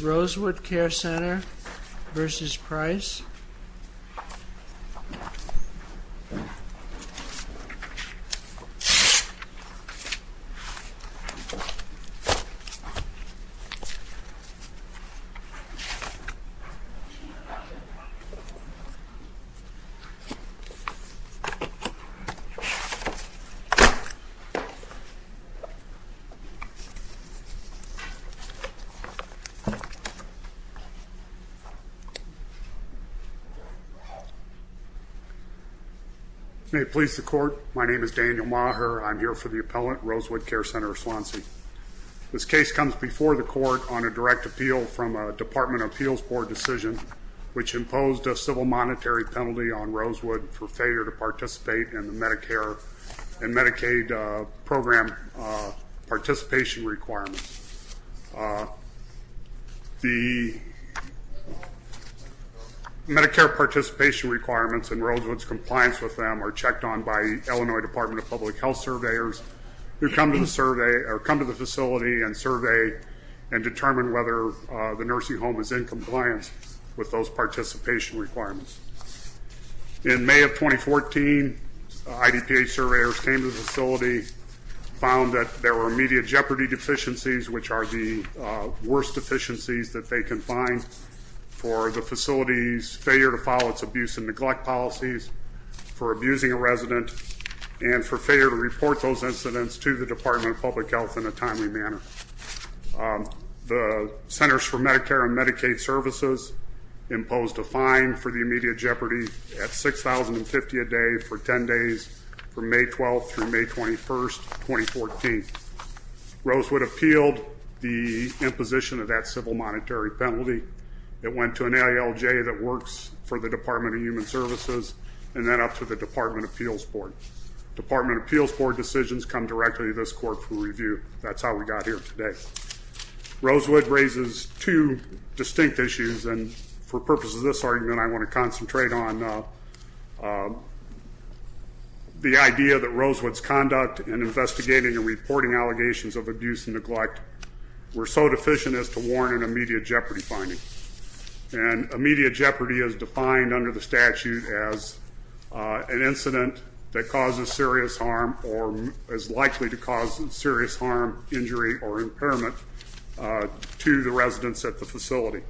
Rosewood Care Center v. Price May it please the court, my name is Daniel Maher. I'm here for the appellant, Rosewood Care Center of Swanse. This case comes before the court on a direct appeal from a Department of Appeals Board decision which imposed a civil monetary penalty on Rosewood for failure to participate in the Medicare and Medicaid program participation requirements. The Medicare participation requirements and Rosewood's compliance with them are checked on by Illinois Department of Public Health surveyors who come to the survey or come to the facility and survey and determine whether the nursing home is in compliance with those participation requirements. In May of 2014, IDPH surveyors came to the facility, found that there were immediate jeopardy deficiencies which are the worst deficiencies that they can find for the facility's failure to follow its abuse and neglect policies, for abusing a resident, and for failure to report those incidents to the Department of Public Health in a timely manner. The Centers for Medicare and Medicaid Services imposed a fine for the immediate jeopardy at $6,050 a day for 10 days from May 12 through May 21, 2014. Rosewood appealed the imposition of that civil monetary penalty. It went to an AILJ that works for the Department of Human Services and then up to the Department of Appeals Board. Department of Appeals Board decisions come directly to this court for review. That's how we got here today. Rosewood raises two distinct issues and for purposes of this argument, I want to concentrate on the idea that Rosewood's conduct in investigating and reporting allegations of abuse and neglect were so deficient as to warrant an immediate jeopardy finding. And immediate jeopardy is likely to cause serious harm, injury, or impairment to the residents at the facility.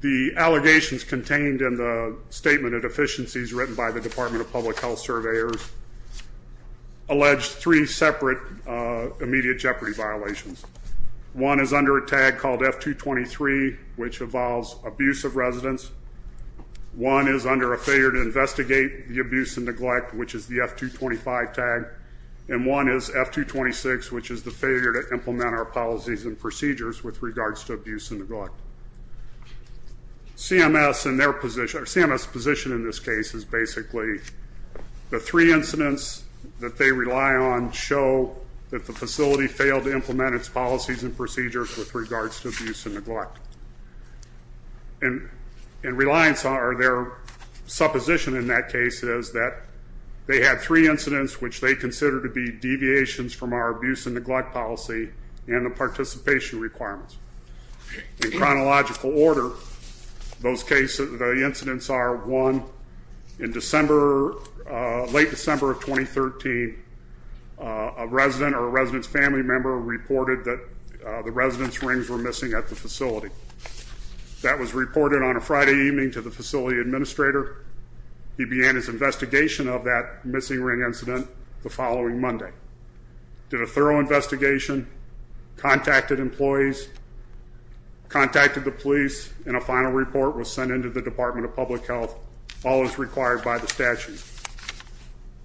The allegations contained in the statement of deficiencies written by the Department of Public Health surveyors allege three separate immediate jeopardy violations. One is under a tag called F-223, which involves abuse of residents. One is under a failure to investigate the F-225 tag, and one is F-226, which is the failure to implement our policies and procedures with regards to abuse and neglect. CMS's position in this case is basically the three incidents that they rely on show that the facility failed to implement its policies and procedures with regards to abuse and neglect. In reliance on their supposition in that case is that they had three incidents which they consider to be deviations from our abuse and neglect policy and the participation requirements. In chronological order, those cases, the incidents are one, in December, late December of 2013, a resident or a resident's family member reported that the resident's rings were missing at the facility. That was reported on a Friday evening to the facility administrator. He began his investigation of that missing ring incident the following Monday. Did a thorough investigation, contacted employees, contacted the police, and a final report was sent into the Department of Public Health, all as required by the statute.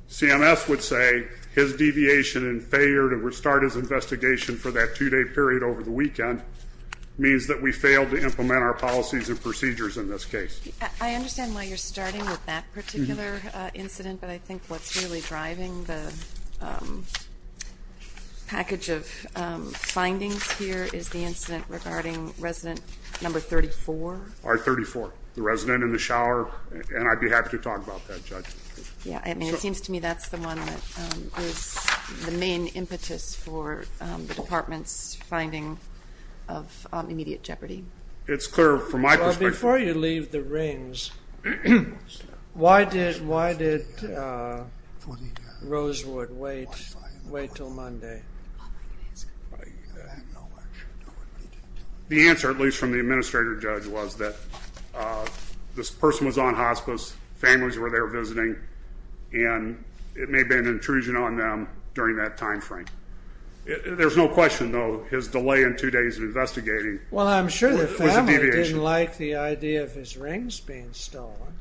CMS would say his deviation and failure to restart his investigation for that two-day period over the weekend means that we failed to implement our policies and procedures in this case. I understand why you're starting with that particular incident, but I think what's really driving the package of findings here is the incident regarding resident number 34. R34, the resident in the shower, and I'd be happy to talk about that, Judge. Yeah, I mean, it seems to me that's the one that is the main impetus for the Department's of immediate jeopardy. It's clear from my perspective. Well, before you leave the rings, why did Rosewood wait till Monday? The answer, at least from the administrator judge, was that this person was on hospice, families were there visiting, and it may have been an intrusion on them during that time frame. There's no question, though, his delay in two days of investigating was a deviation. Well, I'm sure the family didn't like the idea of his rings being stolen.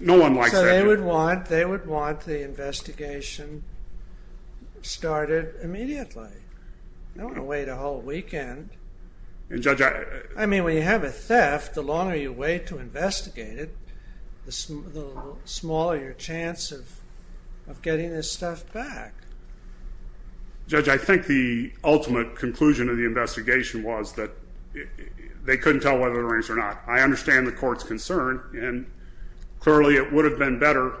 No one likes that. They would want the investigation started immediately. I don't want to wait a whole weekend. And Judge, I mean, when you have a theft, the longer you wait to investigate it, the smaller your chance of getting this stuff back. Judge, I think the ultimate conclusion of the investigation was that they couldn't tell whether the rings were not. I understand the court's concern, and clearly it would have been better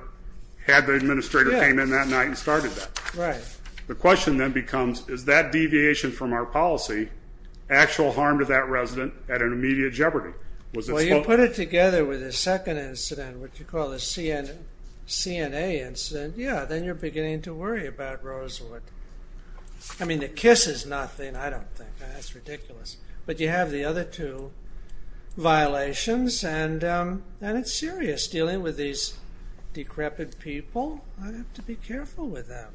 had the administrator came in that night and started that. Right. The question then becomes, is that deviation from our policy actual harm to that resident at an immediate jeopardy? Well, you put it together with a second incident, what you call a CNA incident, yeah, then you're beginning to worry about Rosewood. I mean, the kiss is nothing, I don't think. That's ridiculous. But you have the other two violations, and it's serious, dealing with these decrepit people. I have to be careful with them.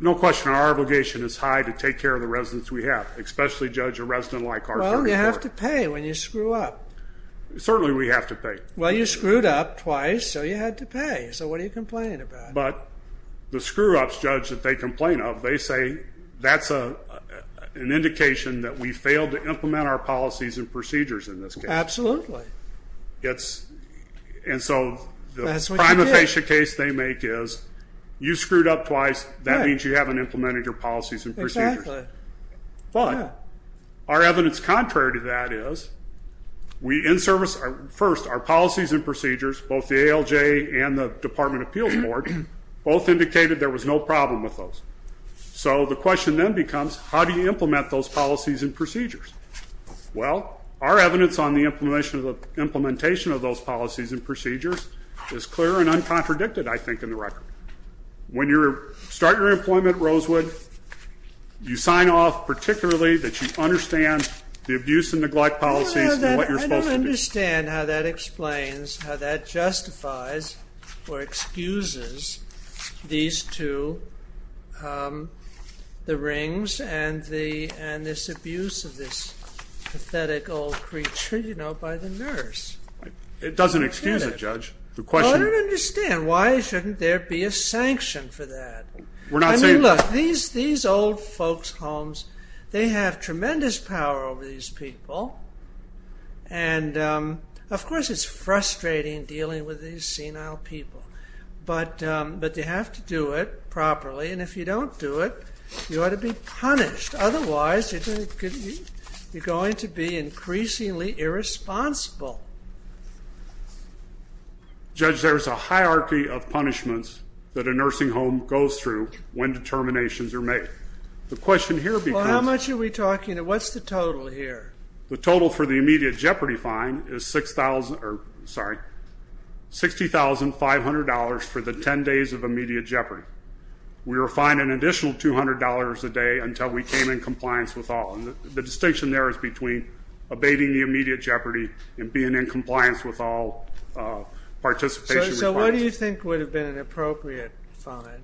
No question, our obligation is high to take care of the residents we have, especially Judge, a resident like our third report. Well, you have to pay when you screw up. Certainly we have to pay. Well, you screwed up twice, so you had to pay. So what are you complaining about? But the screw-ups, Judge, that they complain of, they say that's an indication that we failed to implement our policies and procedures in this case. Absolutely. And so the prima facie case they make is, you screwed up twice, that means you haven't implemented your policies and procedures. But our evidence contrary to that is, we in service, first our policies and procedures, both the ALJ and the Department of Appeals Board, both indicated there was no problem with those. So the question then becomes, how do you implement those policies and procedures? Well, our evidence on the implementation of those policies and procedures is clear and you sign off particularly that you understand the abuse and neglect policies and what you're supposed to do. I don't understand how that explains, how that justifies or excuses these two, the rings and this abuse of this pathetic old creature, you know, by the nurse. It doesn't excuse it, Judge. Well, I don't understand, why shouldn't there be a sanction for that? I mean, look, these old folks' homes, they have tremendous power over these people. And of course, it's frustrating dealing with these senile people. But they have to do it properly. And if you don't do it, you ought to be punished. Otherwise, you're going to be increasingly irresponsible. Judge, there's a hierarchy of punishments that a nursing home goes through when determinations are made. The question here becomes... Well, how much are we talking? What's the total here? The total for the immediate jeopardy fine is $60,500 for the 10 days of immediate jeopardy. We were fined an additional $200 a day until we came in compliance with all. And the distinction there is between abating the immediate jeopardy and being in compliance with all participation... So what do you think would have been an appropriate fine?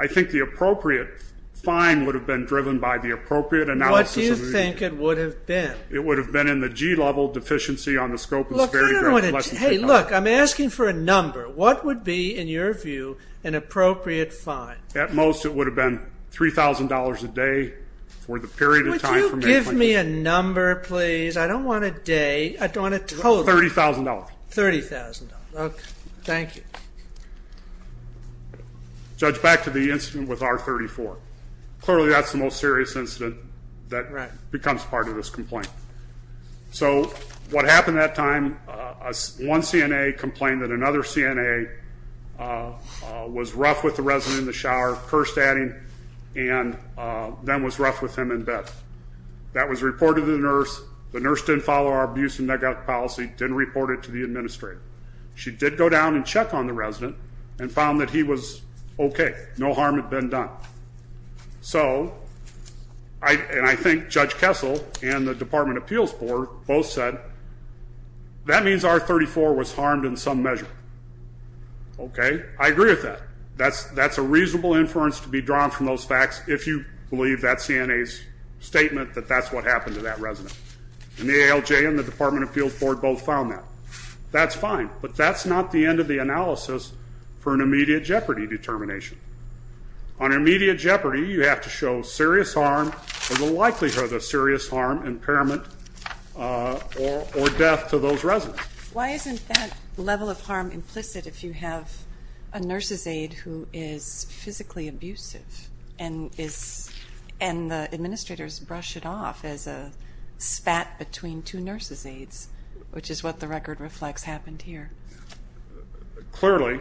I think the appropriate fine would have been driven by the appropriate analysis... What do you think it would have been? It would have been in the G-level deficiency on the scope of the... Hey, look, I'm asking for a number. What would be, in your view, an appropriate fine? At most, it would have been $3,000 a day for the period of time... Would you give me a number, please? I don't want a day. I don't want a total. $30,000. $30,000. Okay. Thank you. Judge, back to the incident with R34. Clearly, that's the most serious incident that becomes part of this complaint. So, what happened that time, one CNA complained that another CNA was rough with the in bed. That was reported to the nurse. The nurse didn't follow our abuse and neglect policy, didn't report it to the administrator. She did go down and check on the resident and found that he was okay. No harm had been done. So, and I think Judge Kessel and the Department of Appeals Board both said, that means R34 was harmed in some measure. Okay. I agree with that. That's a reasonable inference to be drawn from those facts, if you believe that CNA's statement that that's what happened to that resident. And the ALJ and the Department of Appeals Board both found that. That's fine. But that's not the end of the analysis for an immediate jeopardy determination. On immediate jeopardy, you have to show serious harm or the likelihood of serious harm, impairment, or death to those residents. Why isn't that level of harm implicit if you have a nurse's aide who is physically abusive and the administrators brush it off as a spat between two nurse's aides, which is what the record reflects happened here? Clearly,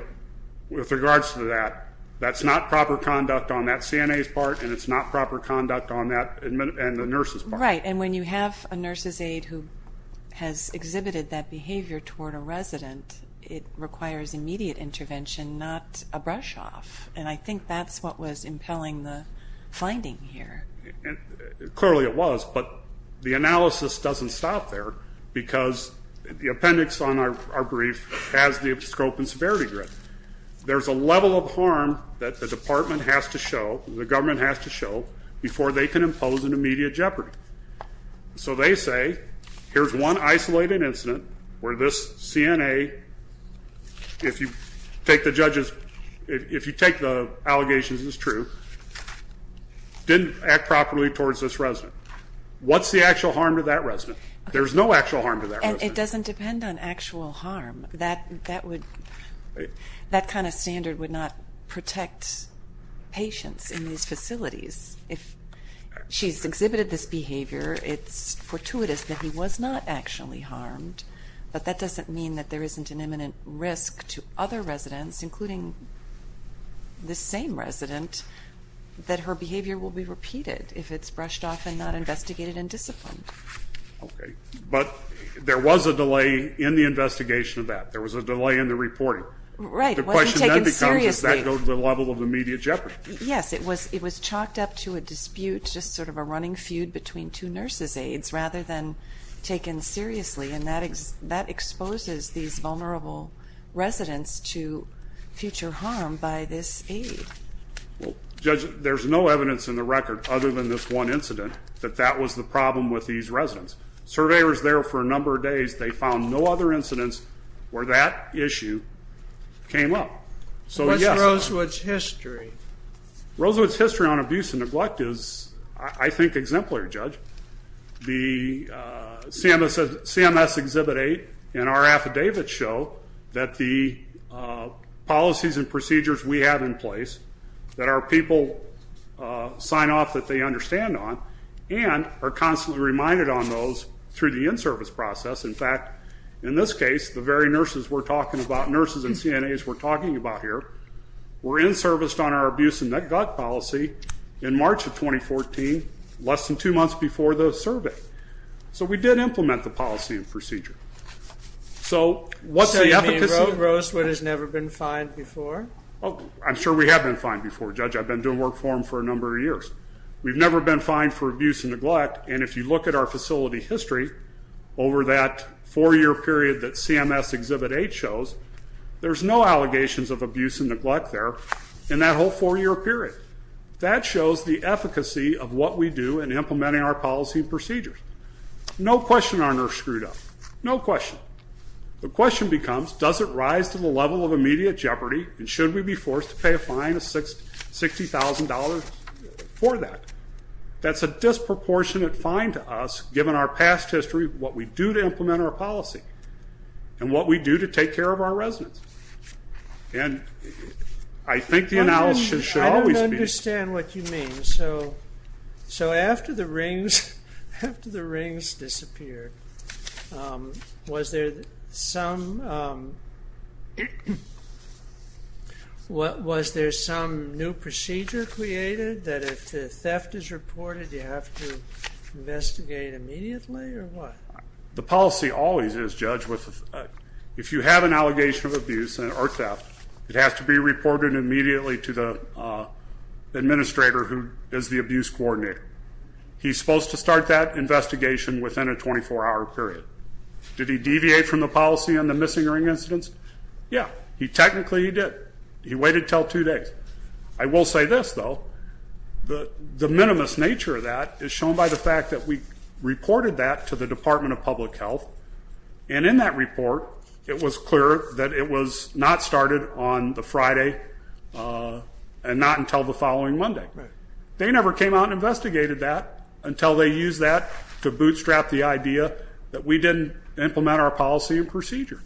with regards to that, that's not proper conduct on that CNA's part and it's not proper conduct on that and the nurse's part. Right. And when you have a nurse's aide who has exhibited that behavior toward a resident, it requires immediate intervention, not a brush off. And I think that's what was impelling the finding here. Clearly it was, but the analysis doesn't stop there because the appendix on our brief has the scope and severity grid. There's a level of harm that the department has to show, the government has to show, before they can impose an immediate jeopardy. So they say, here's one isolated incident where this CNA, if you take the allegations as true, didn't act properly towards this resident. What's the actual harm to that resident? There's no actual harm to that resident. And it doesn't depend on actual harm. That kind of standard would not protect patients in these facilities. If she's exhibited this behavior, it's fortuitous that he was not actually harmed, but that doesn't mean that there isn't an imminent risk to other residents, including this same resident, that her behavior will be repeated if it's brushed off and not investigated and disciplined. Okay, but there was a delay in the investigation of that. There was a delay in the investigation of that. The question then becomes, does that go to the level of immediate jeopardy? Yes, it was chalked up to a dispute, just sort of a running feud between two nurses' aides, rather than taken seriously, and that exposes these vulnerable residents to future harm by this aide. Well Judge, there's no evidence in the record, other than this one incident, that that was the problem with these residents. Surveyors there for a number of days, they found no other issue came up. So what's Rosewood's history? Rosewood's history on abuse and neglect is, I think, exemplary, Judge. The CMS Exhibit 8 and our affidavits show that the policies and procedures we have in place, that our people sign off that they understand on, and are constantly reminded on those through the in-service process. In fact, in this case, the very nurses we're talking about, nurses and CNAs we're talking about here, were in-serviced on our abuse and neglect policy in March of 2014, less than two months before the survey. So we did implement the policy and procedure. So what's the efficacy? So you mean Rosewood has never been fined before? Oh, I'm sure we have been fined before, Judge. I've been doing work for him for a number of years. We've never been fined for abuse and neglect, and if you look at our facility history over that four-year period that CMS Exhibit 8 shows, there's no allegations of abuse and neglect there in that whole four-year period. That shows the efficacy of what we do in implementing our policy and procedures. No question our nurse screwed up. No question. The question becomes, does it rise to the level of immediate disproportionate fine to us, given our past history, what we do to implement our policy and what we do to take care of our residents? And I think the analysis should always be... I don't understand what you mean. So after the rings disappeared, was there some new procedure created that if the theft is reported you have to investigate immediately or what? The policy always is, Judge, if you have an allegation of abuse or theft, it has to be reported immediately to the administrator who is the abuse coordinator. He's supposed to start that Yeah, technically he did. He waited until two days. I will say this, though. The minimus nature of that is shown by the fact that we reported that to the Department of Public Health, and in that report it was clear that it was not started on the Friday and not until the following Monday. They never came out and investigated that until they used that to bootstrap the idea that we didn't implement our policy and procedure.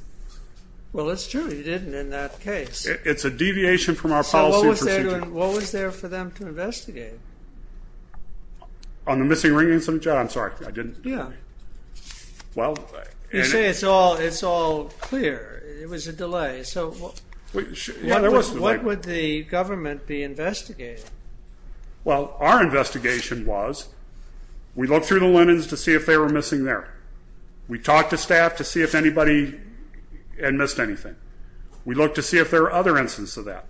Well, it's true, you didn't in that case. It's a deviation from our policy and procedure. So what was there for them to investigate? On the missing ring incident? I'm sorry, I didn't... Yeah. You say it's all clear. It was a delay. So what would the government be investigating? Well, our investigation was, we looked through the linens to see if they were missing there. We talked to staff to see if anybody had missed anything. We looked to see if there were other instances of that.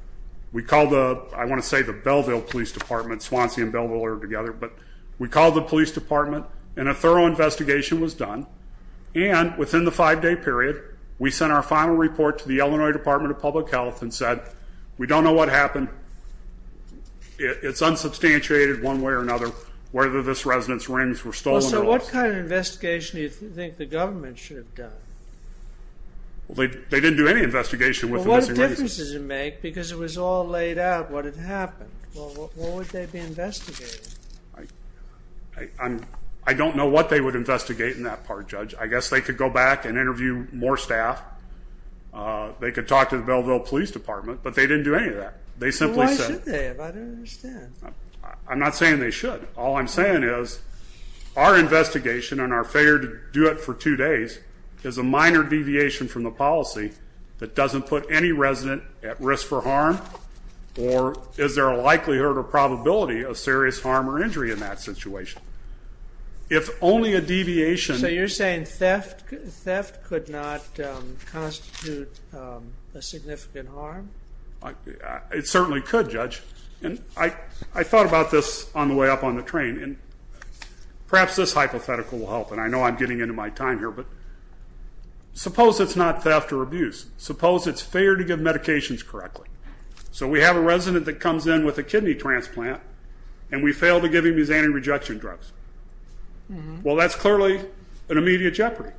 We called the, I want to say the Belleville Police Department, Swansea and Belleville are together, but we called the police department and a thorough investigation was done. And within the five-day period, we sent our final report to the Illinois Department of Public Health and said, we don't know what happened. It's unsubstantiated one way or another, whether this residence rings were stolen or not. So what kind of investigation do you think the government should have done? Well, they didn't do any investigation. Well, what difference does it make? Because it was all laid out what had happened. Well, what would they be investigating? I don't know what they would investigate in that part, Judge. I guess they could go back and interview more staff. They could talk to the Belleville Police Department, but they didn't do any of that. They simply said... Well, why should they? I don't All I'm saying is our investigation and our failure to do it for two days is a minor deviation from the policy that doesn't put any resident at risk for harm. Or is there a likelihood or probability of serious harm or injury in that situation? If only a deviation... So you're saying theft could not constitute a significant harm? It certainly could, Judge. And I thought about this on the way up on the train, and perhaps this hypothetical will help. And I know I'm getting into my time here, but suppose it's not theft or abuse. Suppose it's fair to give medications correctly. So we have a resident that comes in with a kidney transplant, and we fail to give him these anti-rejection drugs. Well, that's clearly an immediate jeopardy.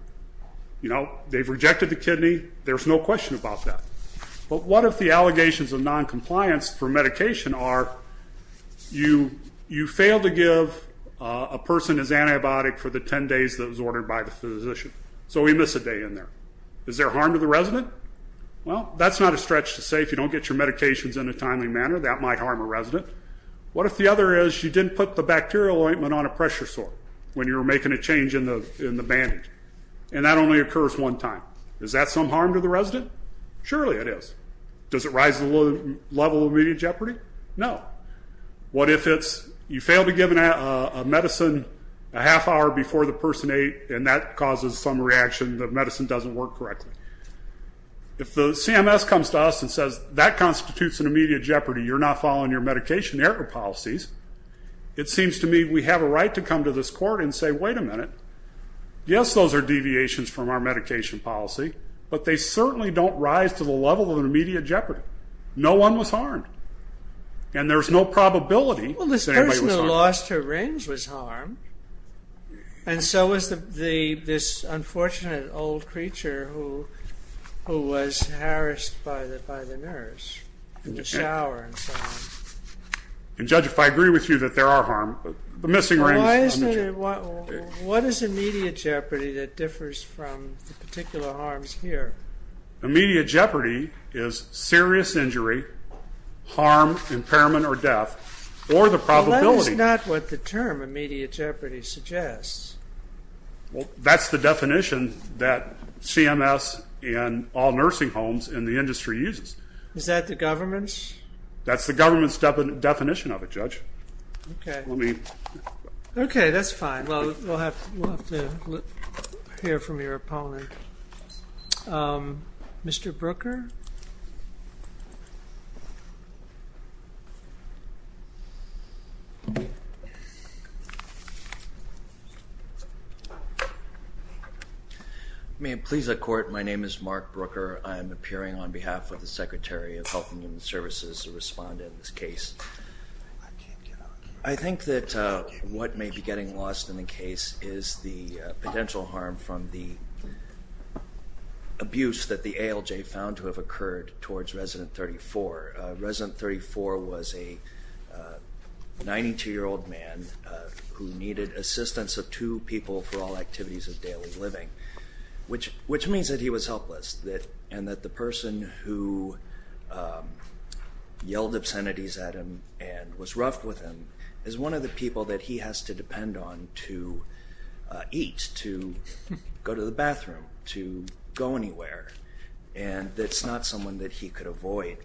You know, they've rejected the kidney. There's no question about that. But what if the allegations of non-compliance for medication are you fail to give a person his antibiotic for the 10 days that was ordered by the physician? So we miss a day in there. Is there harm to the resident? Well, that's not a stretch to say. If you don't get your medications in a timely manner, that might harm a resident. What if the other is you didn't put the bacterial ointment on a Is that some harm to the resident? Surely it is. Does it rise to the level of immediate jeopardy? No. What if it's you fail to give a medicine a half hour before the person ate, and that causes some reaction, the medicine doesn't work correctly? If the CMS comes to us and says, that constitutes an immediate jeopardy, you're not following your medication error policies, it seems to me we have a right to come to this court and say, wait a minute. Yes, those are deviations from our medication policy, but they certainly don't rise to the level of an immediate jeopardy. No one was harmed. And there's no probability that anybody was harmed. Well, this person who lost her rings was harmed. And so was this unfortunate old creature who was harassed by the nurse in the shower and so on. And Judge, if I agree with you that there are harm, but the missing rings. Well, what is immediate jeopardy that differs from the particular harms here? Immediate jeopardy is serious injury, harm, impairment, or death, or the probability. That's not what the term immediate jeopardy suggests. Well, that's the definition that CMS and all nursing homes in the industry uses. Is that the government's? That's the government's definition of it, Judge. OK. OK, that's fine. We'll have to hear from your opponent. Mr. Brooker? May it please the court, my name is Mark Brooker. I am appearing on behalf of the I think that what may be getting lost in the case is the potential harm from the abuse that the ALJ found to have occurred towards resident 34. Resident 34 was a 92-year-old man who needed assistance of two people for all activities of daily living, which means that he was helpless. And that the person who was rough with him is one of the people that he has to depend on to eat, to go to the bathroom, to go anywhere. And that's not someone that he could avoid.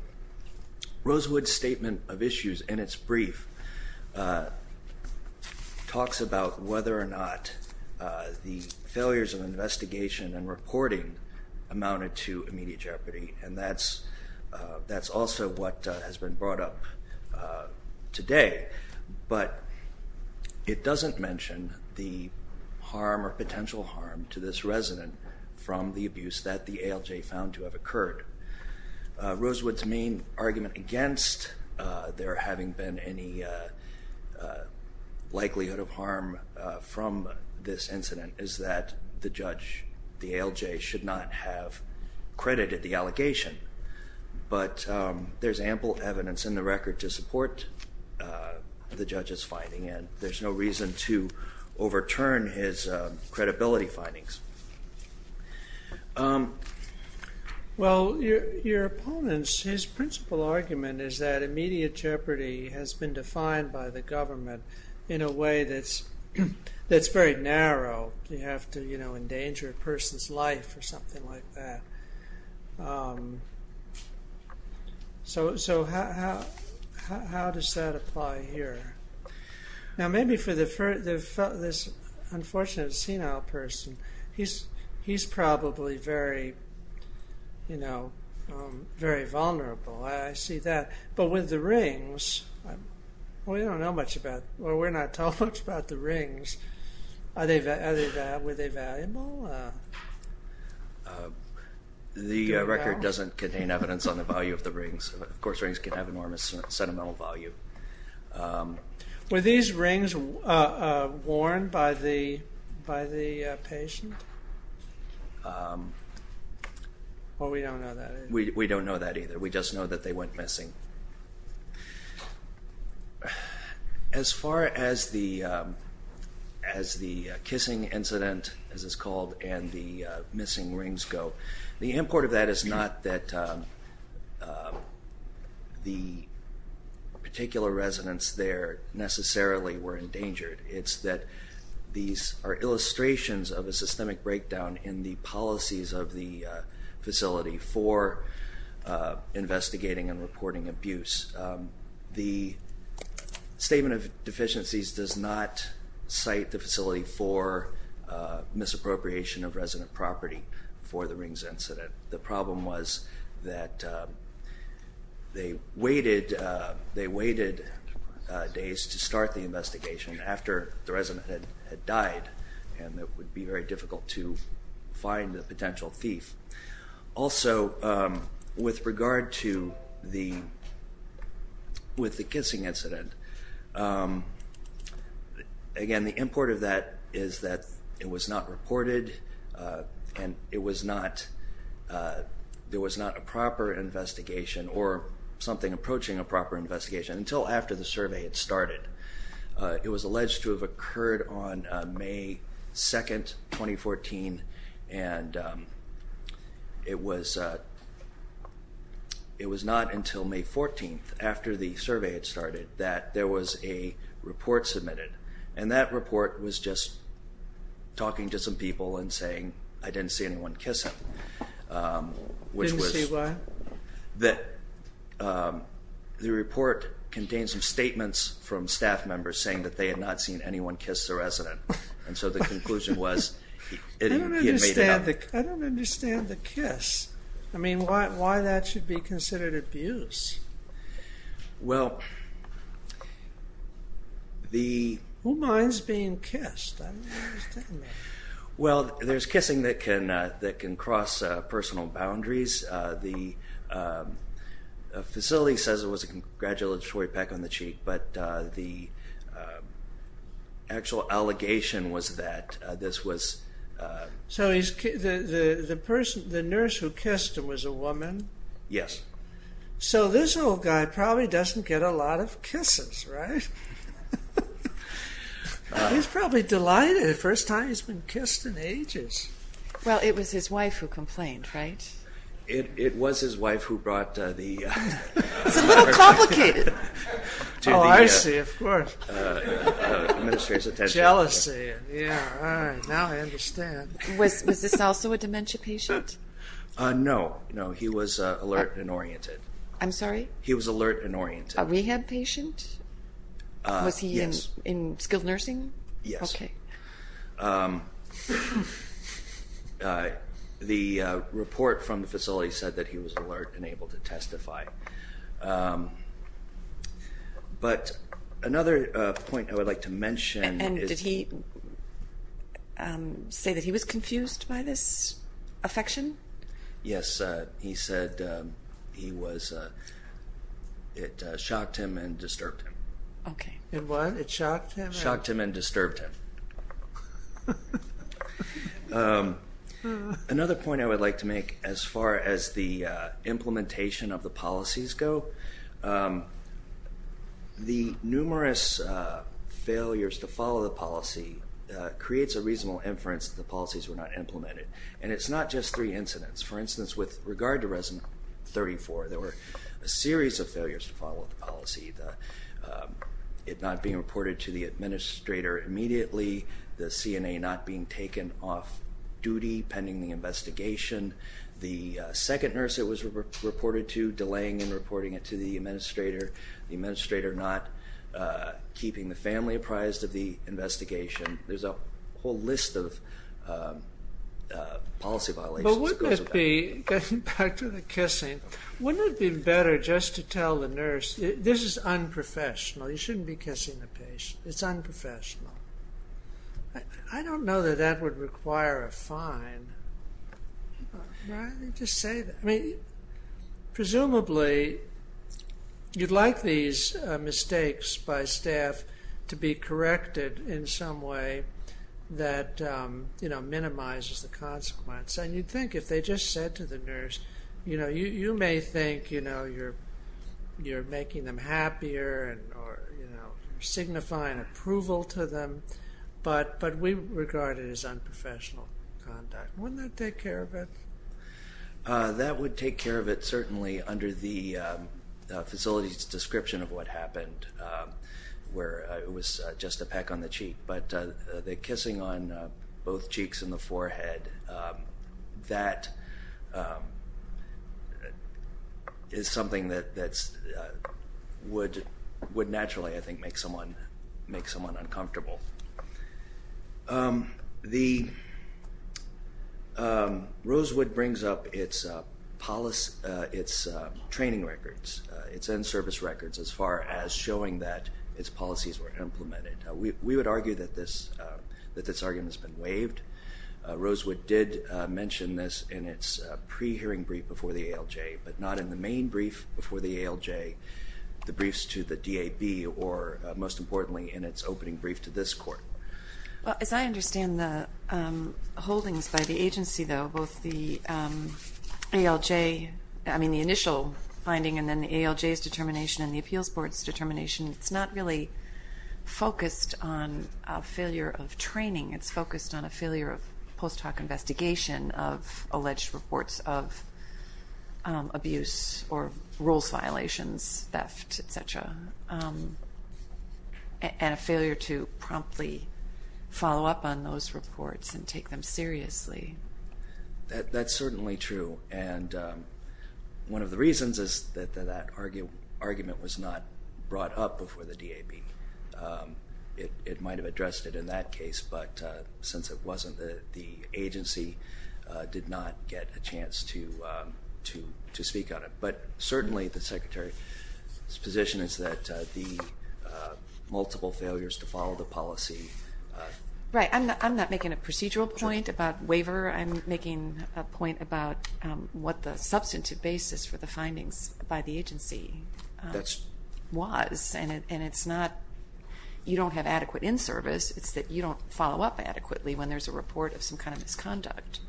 Rosewood's statement of issues in its brief talks about whether or not the failures of investigation and reporting amounted to immediate jeopardy. And that's also what has been brought up today. But it doesn't mention the harm or potential harm to this resident from the abuse that the ALJ found to have occurred. Rosewood's main argument against there having been any likelihood of harm from this incident is that the judge, the ALJ, should not have credited the allegation. But there's ample evidence in the record to support the judge's finding. And there's no reason to overturn his credibility findings. Well, your opponent's principal argument is that immediate jeopardy has been defined by the government in a way that's very narrow. You have to endanger a person's life or something like that. So, how does that apply here? Now, maybe for this unfortunate senile person, he's probably very vulnerable. I see that. But with the rings, we don't know much about, well, we're not told much about the rings. Were they valuable? The record doesn't contain evidence on the value of the rings. Of course, rings can have enormous sentimental value. Were these rings worn by the patient? Well, we don't know that. We don't know that either. We just know that they went missing. As far as the kissing incident, as it's called, and the missing rings go, the import of that is not that the particular residents there necessarily were endangered. It's that these are illustrations of a systemic breakdown in the policies of the facility for investigating and reporting abuse. The statement of deficiencies does not cite the facility for misappropriation of resident property for the rings incident. The problem was that they waited days to start the investigation after the resident had died, and it would be very the, with the kissing incident. Again, the import of that is that it was not reported and it was not, there was not a proper investigation or something approaching a proper investigation until after the survey had started. It was alleged to have occurred on May 2, 2014, and it was not until May 14, after the survey had started, that there was a report submitted, and that report was just talking to some people and saying, I didn't see anyone kiss him. Didn't see what? The report contained some statements from staff members saying that they had not seen anyone kiss the resident, and so the conclusion was... I don't understand the kiss. I mean, why that should be considered abuse? Well, the... Who minds being kissed? I don't understand that. Well, there's kissing that can, that can cross personal boundaries. The facility says it was a congratulatory peck on the cheek, but the actual allegation was that this was... So the person, the nurse who kissed him was a woman? Yes. So this old guy probably doesn't get a lot of kisses, right? He's probably delighted. First time he's been kissed in ages. Well, it was his wife who complained, right? It was his wife who brought the... It's a little complicated. Oh, I see, of course. Administrator's attention. Jealousy. Yeah, all right. Now I understand. Was this also a dementia patient? No, no. He was alert and oriented. I'm sorry? He was alert and oriented. A rehab patient? Was he in skilled nursing? Yes. Okay. The report from the facility said that he was alert and able to testify. But another point I would like to mention... And did he say that he was confused by this affection? Yes. He said he was... It shocked him and disturbed him. Okay. It what? It shocked him? Shocked him and disturbed him. Okay. Another point I would like to make as far as the implementation of the policies go, the numerous failures to follow the policy creates a reasonable inference that the policies were not implemented. And it's not just three incidents. For instance, with regard to resident 34, there were a series of failures to follow the policy. It not being reported to the administrator immediately. The CNA not being taken off duty pending the investigation. The second nurse it was reported to, delaying in reporting it to the administrator. The administrator not keeping the family apprised of the investigation. There's a whole list of policy violations. But wouldn't it be, getting back to the kissing, wouldn't it be better just to tell the nurse, this is unprofessional. You shouldn't be kissing the patient. It's unprofessional. I don't know that that would require a fine. I mean, presumably, you'd like these mistakes by staff to be corrected in some way that minimizes the consequence. And you'd think if they just said to the nurse, you know, you may think, you know, you're making them happier or, you know, signifying approval to them. But we regard it as unprofessional conduct. Wouldn't that take care of it? That would take care of it, certainly, under the facility's description of what happened, where it was just a peck on the cheek. But the kissing on both cheeks and the forehead, that is something that would naturally, I think, make someone uncomfortable. Rosewood brings up its training records, its end service records, as far as showing that its policies were implemented. We would argue that this argument has been waived. Rosewood did mention this in its pre-hearing brief before the ALJ, but not in the main brief before the ALJ, the briefs to the DAB, or, most importantly, in its opening brief to this Court. Well, as I understand the holdings by the agency, though, both the ALJ, I mean, the initial finding and then the ALJ's determination and the Appeals Board's determination, it's not really focused on a failure of training. It's focused on a failure of post-hoc investigation of alleged reports of abuse or rules violations, theft, et cetera, and a failure to promptly follow up on those reports and take them seriously. That's certainly true, and one of the reasons is that that argument was not brought up before the DAB. It might have addressed it in that case, but since it wasn't, the agency did not get a chance to speak on it. But certainly, the Secretary's position is that the multiple failures to follow the policy... Right. I'm not making a procedural point about waiver. I'm making a point about what the substantive basis for the findings by the agency was, and it's not you don't have adequate in-service. It's that you don't follow up adequately when there's a report of some kind of misconduct.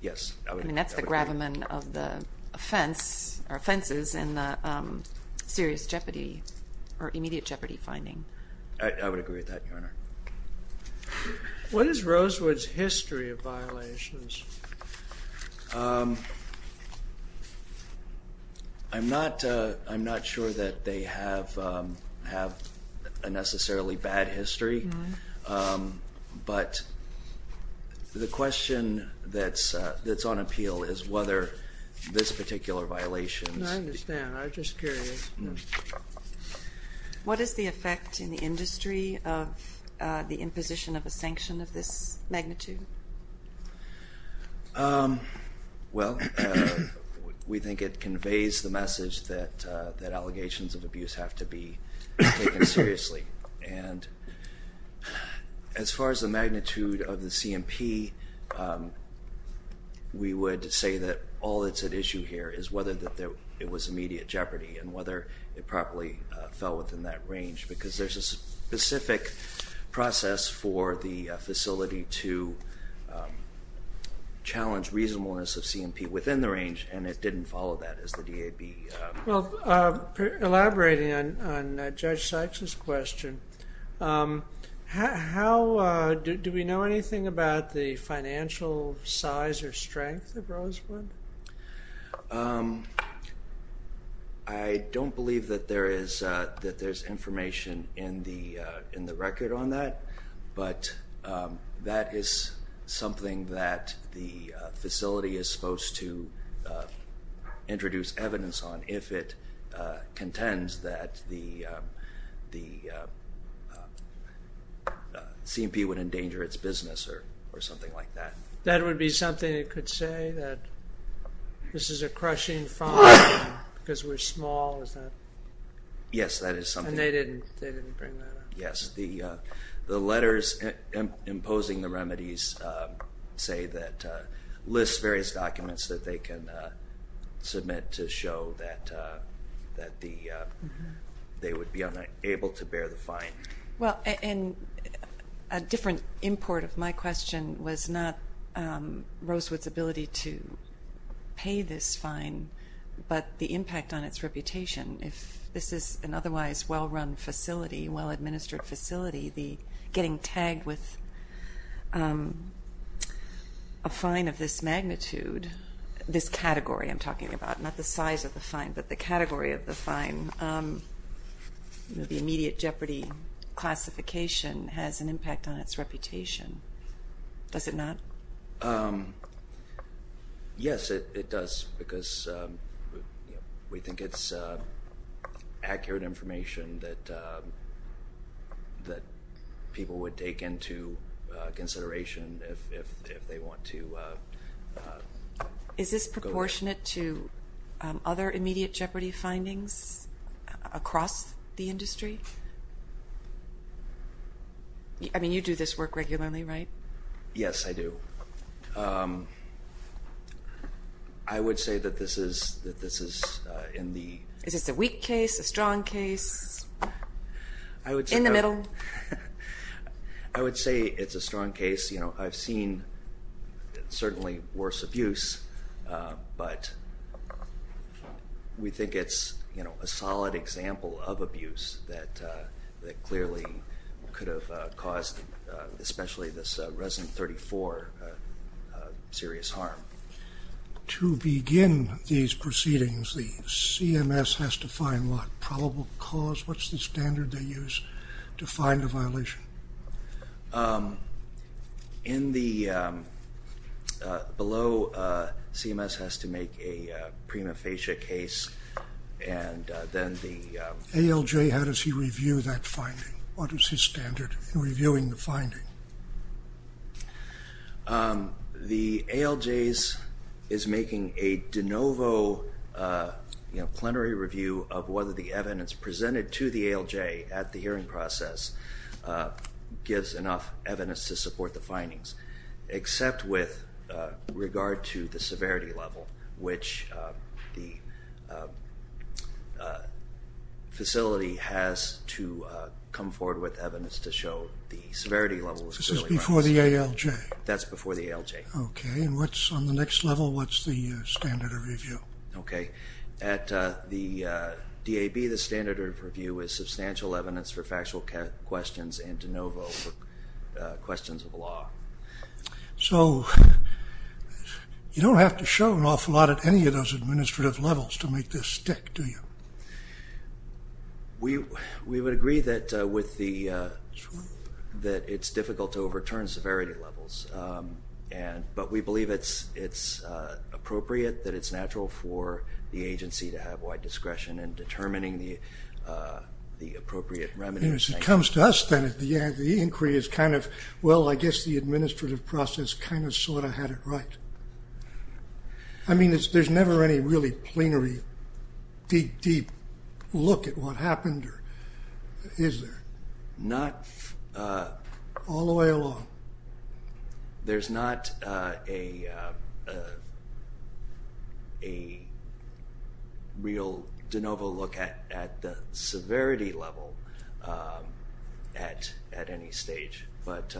Yes. I mean, that's the gravamen of the offense or offenses in the serious jeopardy or immediate jeopardy finding. I would agree with that, Your Honor. What is Rosewood's history of violations? I'm not sure that they have a necessarily bad history, but the question that's on appeal is whether this particular violation... I understand. I'm just curious. Mm-hmm. What is the effect in the industry of the imposition of a sanction of this magnitude? Well, we think it conveys the message that allegations of abuse have to be taken seriously. And as far as the magnitude of the CMP, we would say that all that's at issue here is whether it was immediate jeopardy and whether it properly fell within that range, because there's a specific process for the facility to challenge reasonableness of CMP within the range, and it didn't follow that as the DAB... Well, elaborating on Judge Sykes's question, do we know anything about the financial size or strength of Rosewood? I don't believe that there is, that there's information in the record on that, but that is something that the facility is supposed to introduce evidence on if it contends that the CMP would endanger its business or something like that. That would be something it could say, that this is a crushing fine because we're small? Yes, that is something. And they didn't bring that up? Yes, the letters imposing the remedies say that... lists various documents that they can submit to show that they would be able to bear the fine. Well, and a different import of my question was not Rosewood's ability to pay this fine, but the impact on its reputation. If this is an otherwise well-run facility, well-administered facility, the getting tagged with a fine of this magnitude, this category I'm talking about, not the size of the fine, but the category of the fine, the immediate jeopardy classification has an impact on its reputation. Does it not? Yes, it does, because we think it's accurate information that people would take into consideration if they want to... Is this proportionate to other immediate jeopardy findings across the industry? I mean, you do this work regularly, right? Yes, I do. I would say that this is in the... Is this a weak case, a strong case, in the middle? I would say it's a strong case. I've seen certainly worse abuse, but we think it's, you know, a solid example of abuse that clearly could have caused, especially this Resin 34, serious harm. To begin these proceedings, the CMS has to find what probable cause, what's the standard they use to find a violation? In the... Below, CMS has to make a prima facie case, and then the... ALJ, how does he review that finding? What is his standard in reviewing the finding? The ALJs is making a de novo, you know, plenary review of whether the evidence presented to the hearing process gives enough evidence to support the findings, except with regard to the severity level, which the facility has to come forward with evidence to show the severity level was... This is before the ALJ? That's before the ALJ. Okay, and what's on the next level, what's the standard of review? Okay, at the DAB, the standard of review is substantial evidence for factual questions and de novo for questions of the law. So you don't have to show an awful lot at any of those administrative levels to make this stick, do you? We would agree that with the... That it's difficult to overturn severity levels, and... But we believe it's appropriate, that it's natural for the agency to have wide discretion in determining the appropriate remedies. And if it comes to us, then at the end, the inquiry is kind of, well, I guess the administrative process kind of sort of had it right. I mean, there's never any really plenary, deep, deep look at what happened or... Is there? Not... All the way along. There's not a real de novo look at the severity level at any stage, but...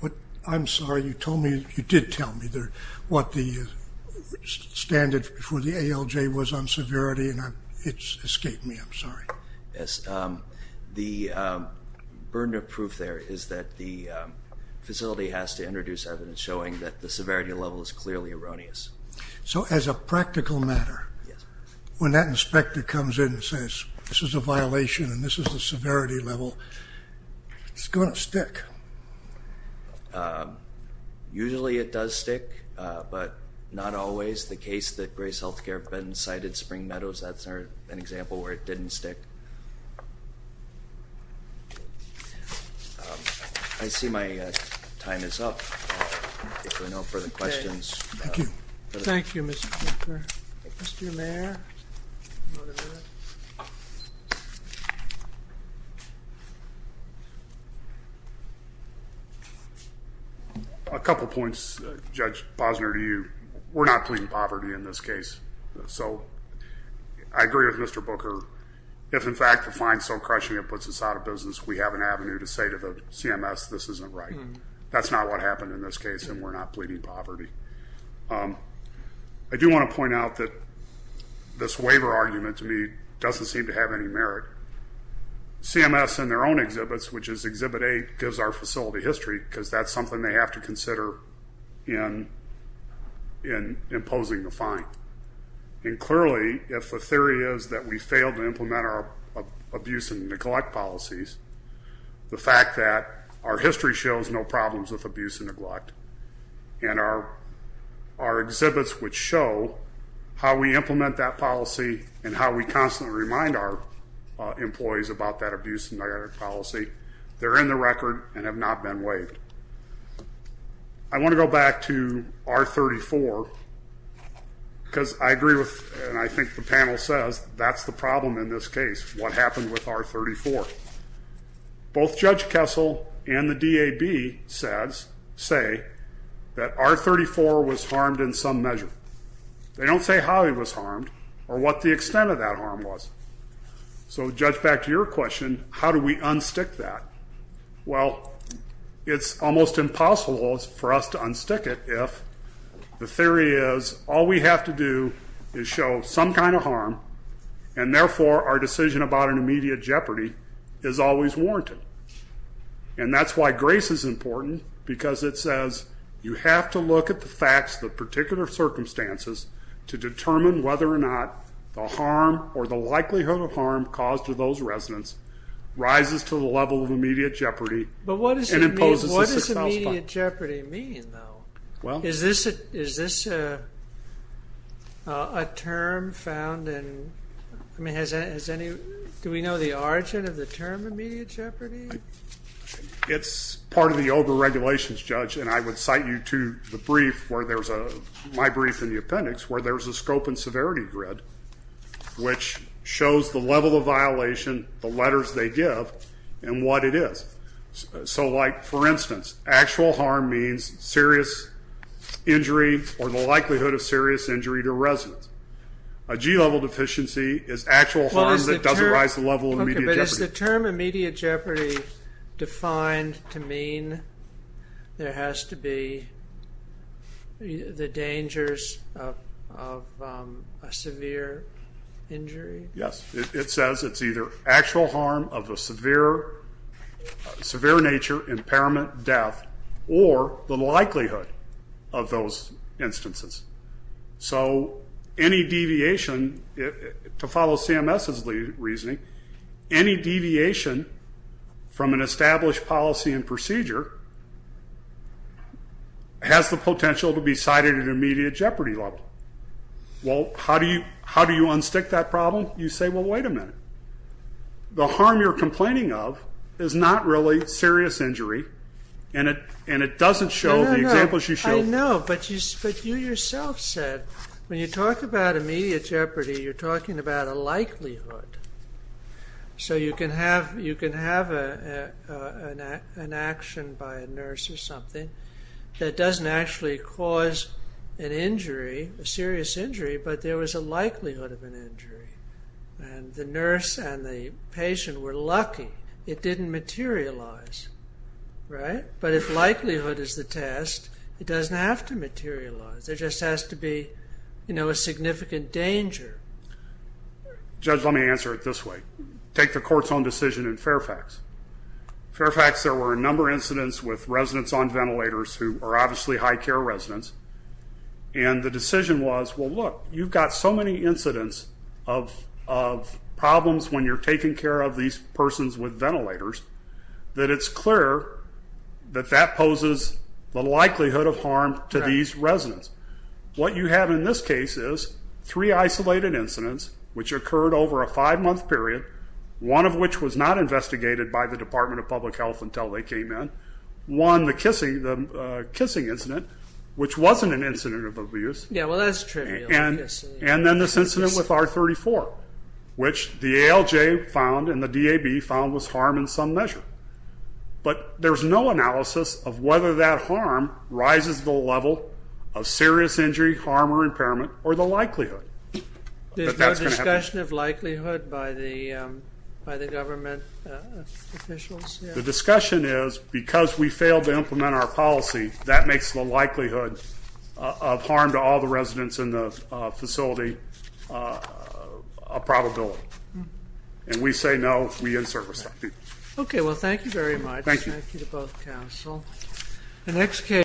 But I'm sorry, you told me, you did tell me what the standard for the ALJ was on severity, and it's escaped me, I'm sorry. Yes, the burden of proof there is that the facility has to introduce evidence showing that the severity level is clearly erroneous. So as a practical matter, when that inspector comes in and says, this is a violation and this is the severity level, it's going to stick? Usually it does stick, but not always. The case that Grace Healthcare been cited Spring Meadows, that's an example where it didn't stick. I see my time is up. If there are no further questions... Thank you. Thank you, Mr. Speaker. Mr. Mayor? A couple points, Judge Posner, to you. We're not pleading poverty in this case. So I agree with Mr. Booker. If, in fact, the fine is so crushing it puts us out of business, we have an avenue to say to the CMS this isn't right. That's not what happened in this case, and we're not pleading poverty. I do want to point out that this waiver argument to me doesn't seem to have any merit. CMS in their own exhibits, which is Exhibit 8, gives our facility history because that's something they have to consider in imposing the fine. Clearly, if the theory is that we failed to implement our abuse and neglect policies, the fact that our history shows no problems with abuse and neglect, and our exhibits which show how we implement that policy and how we constantly remind our employees about that abuse and neglect policy, they're in the record and have not been waived. I want to go back to R34 because I agree with, and I think the panel says, that's the problem in this case, what happened with R34. Both Judge Kessel and the DAB say that R34 was harmed in some measure. They don't say how it was harmed or what the extent of that harm was. So, Judge, back to your question, how do we unstick that? Well, it's almost impossible for us to unstick it if the theory is, all we have to do is show some kind of harm, and therefore our decision about an immediate jeopardy is always warranted. And that's why grace is important because it says, you have to look at the facts of the particular circumstances to determine whether or not the harm or the likelihood of harm caused to those residents rises to the level of immediate jeopardy. But what does immediate jeopardy mean, though? Is this a term found in, I mean, has any, do we know the origin of the term immediate jeopardy? It's part of the older regulations, Judge, and I would cite you to the brief where there's a, my brief in the appendix, where there's a scope and severity grid which shows the level of violation, the letters they give, and what it is. So like, for instance, actual harm means serious injury or the likelihood of serious injury to residents. A G-level deficiency is actual harm that doesn't rise to the level of immediate jeopardy. Okay, but is the term immediate jeopardy defined to mean there has to be the dangers of a severe injury? Yes, it says it's either actual harm of a severe nature, impairment, death, or the likelihood of those instances. So any deviation, to follow CMS's reasoning, any deviation from an established policy and procedure has the potential to be cited at an immediate jeopardy level. Well, how do you unstick that problem? You say, well, wait a minute. The harm you're complaining of is not really serious injury, and it doesn't show the examples you showed. No, no, I know, but you yourself said, when you talk about immediate jeopardy, you're talking about a likelihood. So you can have an action by a nurse or something that doesn't actually cause an injury, a serious injury, but there was a likelihood of an injury. And the nurse and the patient were lucky it didn't materialize, right? But if likelihood is the test, it doesn't have to materialize. There just has to be a significant danger. Judge, let me answer it this way. Take the court's own decision in Fairfax. Fairfax, there were a number of incidents with residents on ventilators who are obviously high-care residents. And the decision was, well, look, you've got so many incidents of problems when you're taking care of these persons with ventilators that it's clear that that poses the likelihood of harm to these residents. What you have in this case is three isolated incidents, which occurred over a five-month period, one of which was not investigated by the Department of Public Health until they came in. One, the kissing incident, which wasn't an incident of abuse. Yeah, well, that's trivial. And then this incident with R34, which the ALJ found and the DAB found was harm in some measure. But there's no analysis of whether that harm rises the level of serious injury, harm, or impairment, or the likelihood. There's no discussion of likelihood by the government officials? The discussion is, because we failed to implement our policy, that makes the likelihood of harm to all the residents in the facility a probability. And we say no, we insert respect. Okay, well, thank you very much. Thank you. Thank you to both Council. The next case.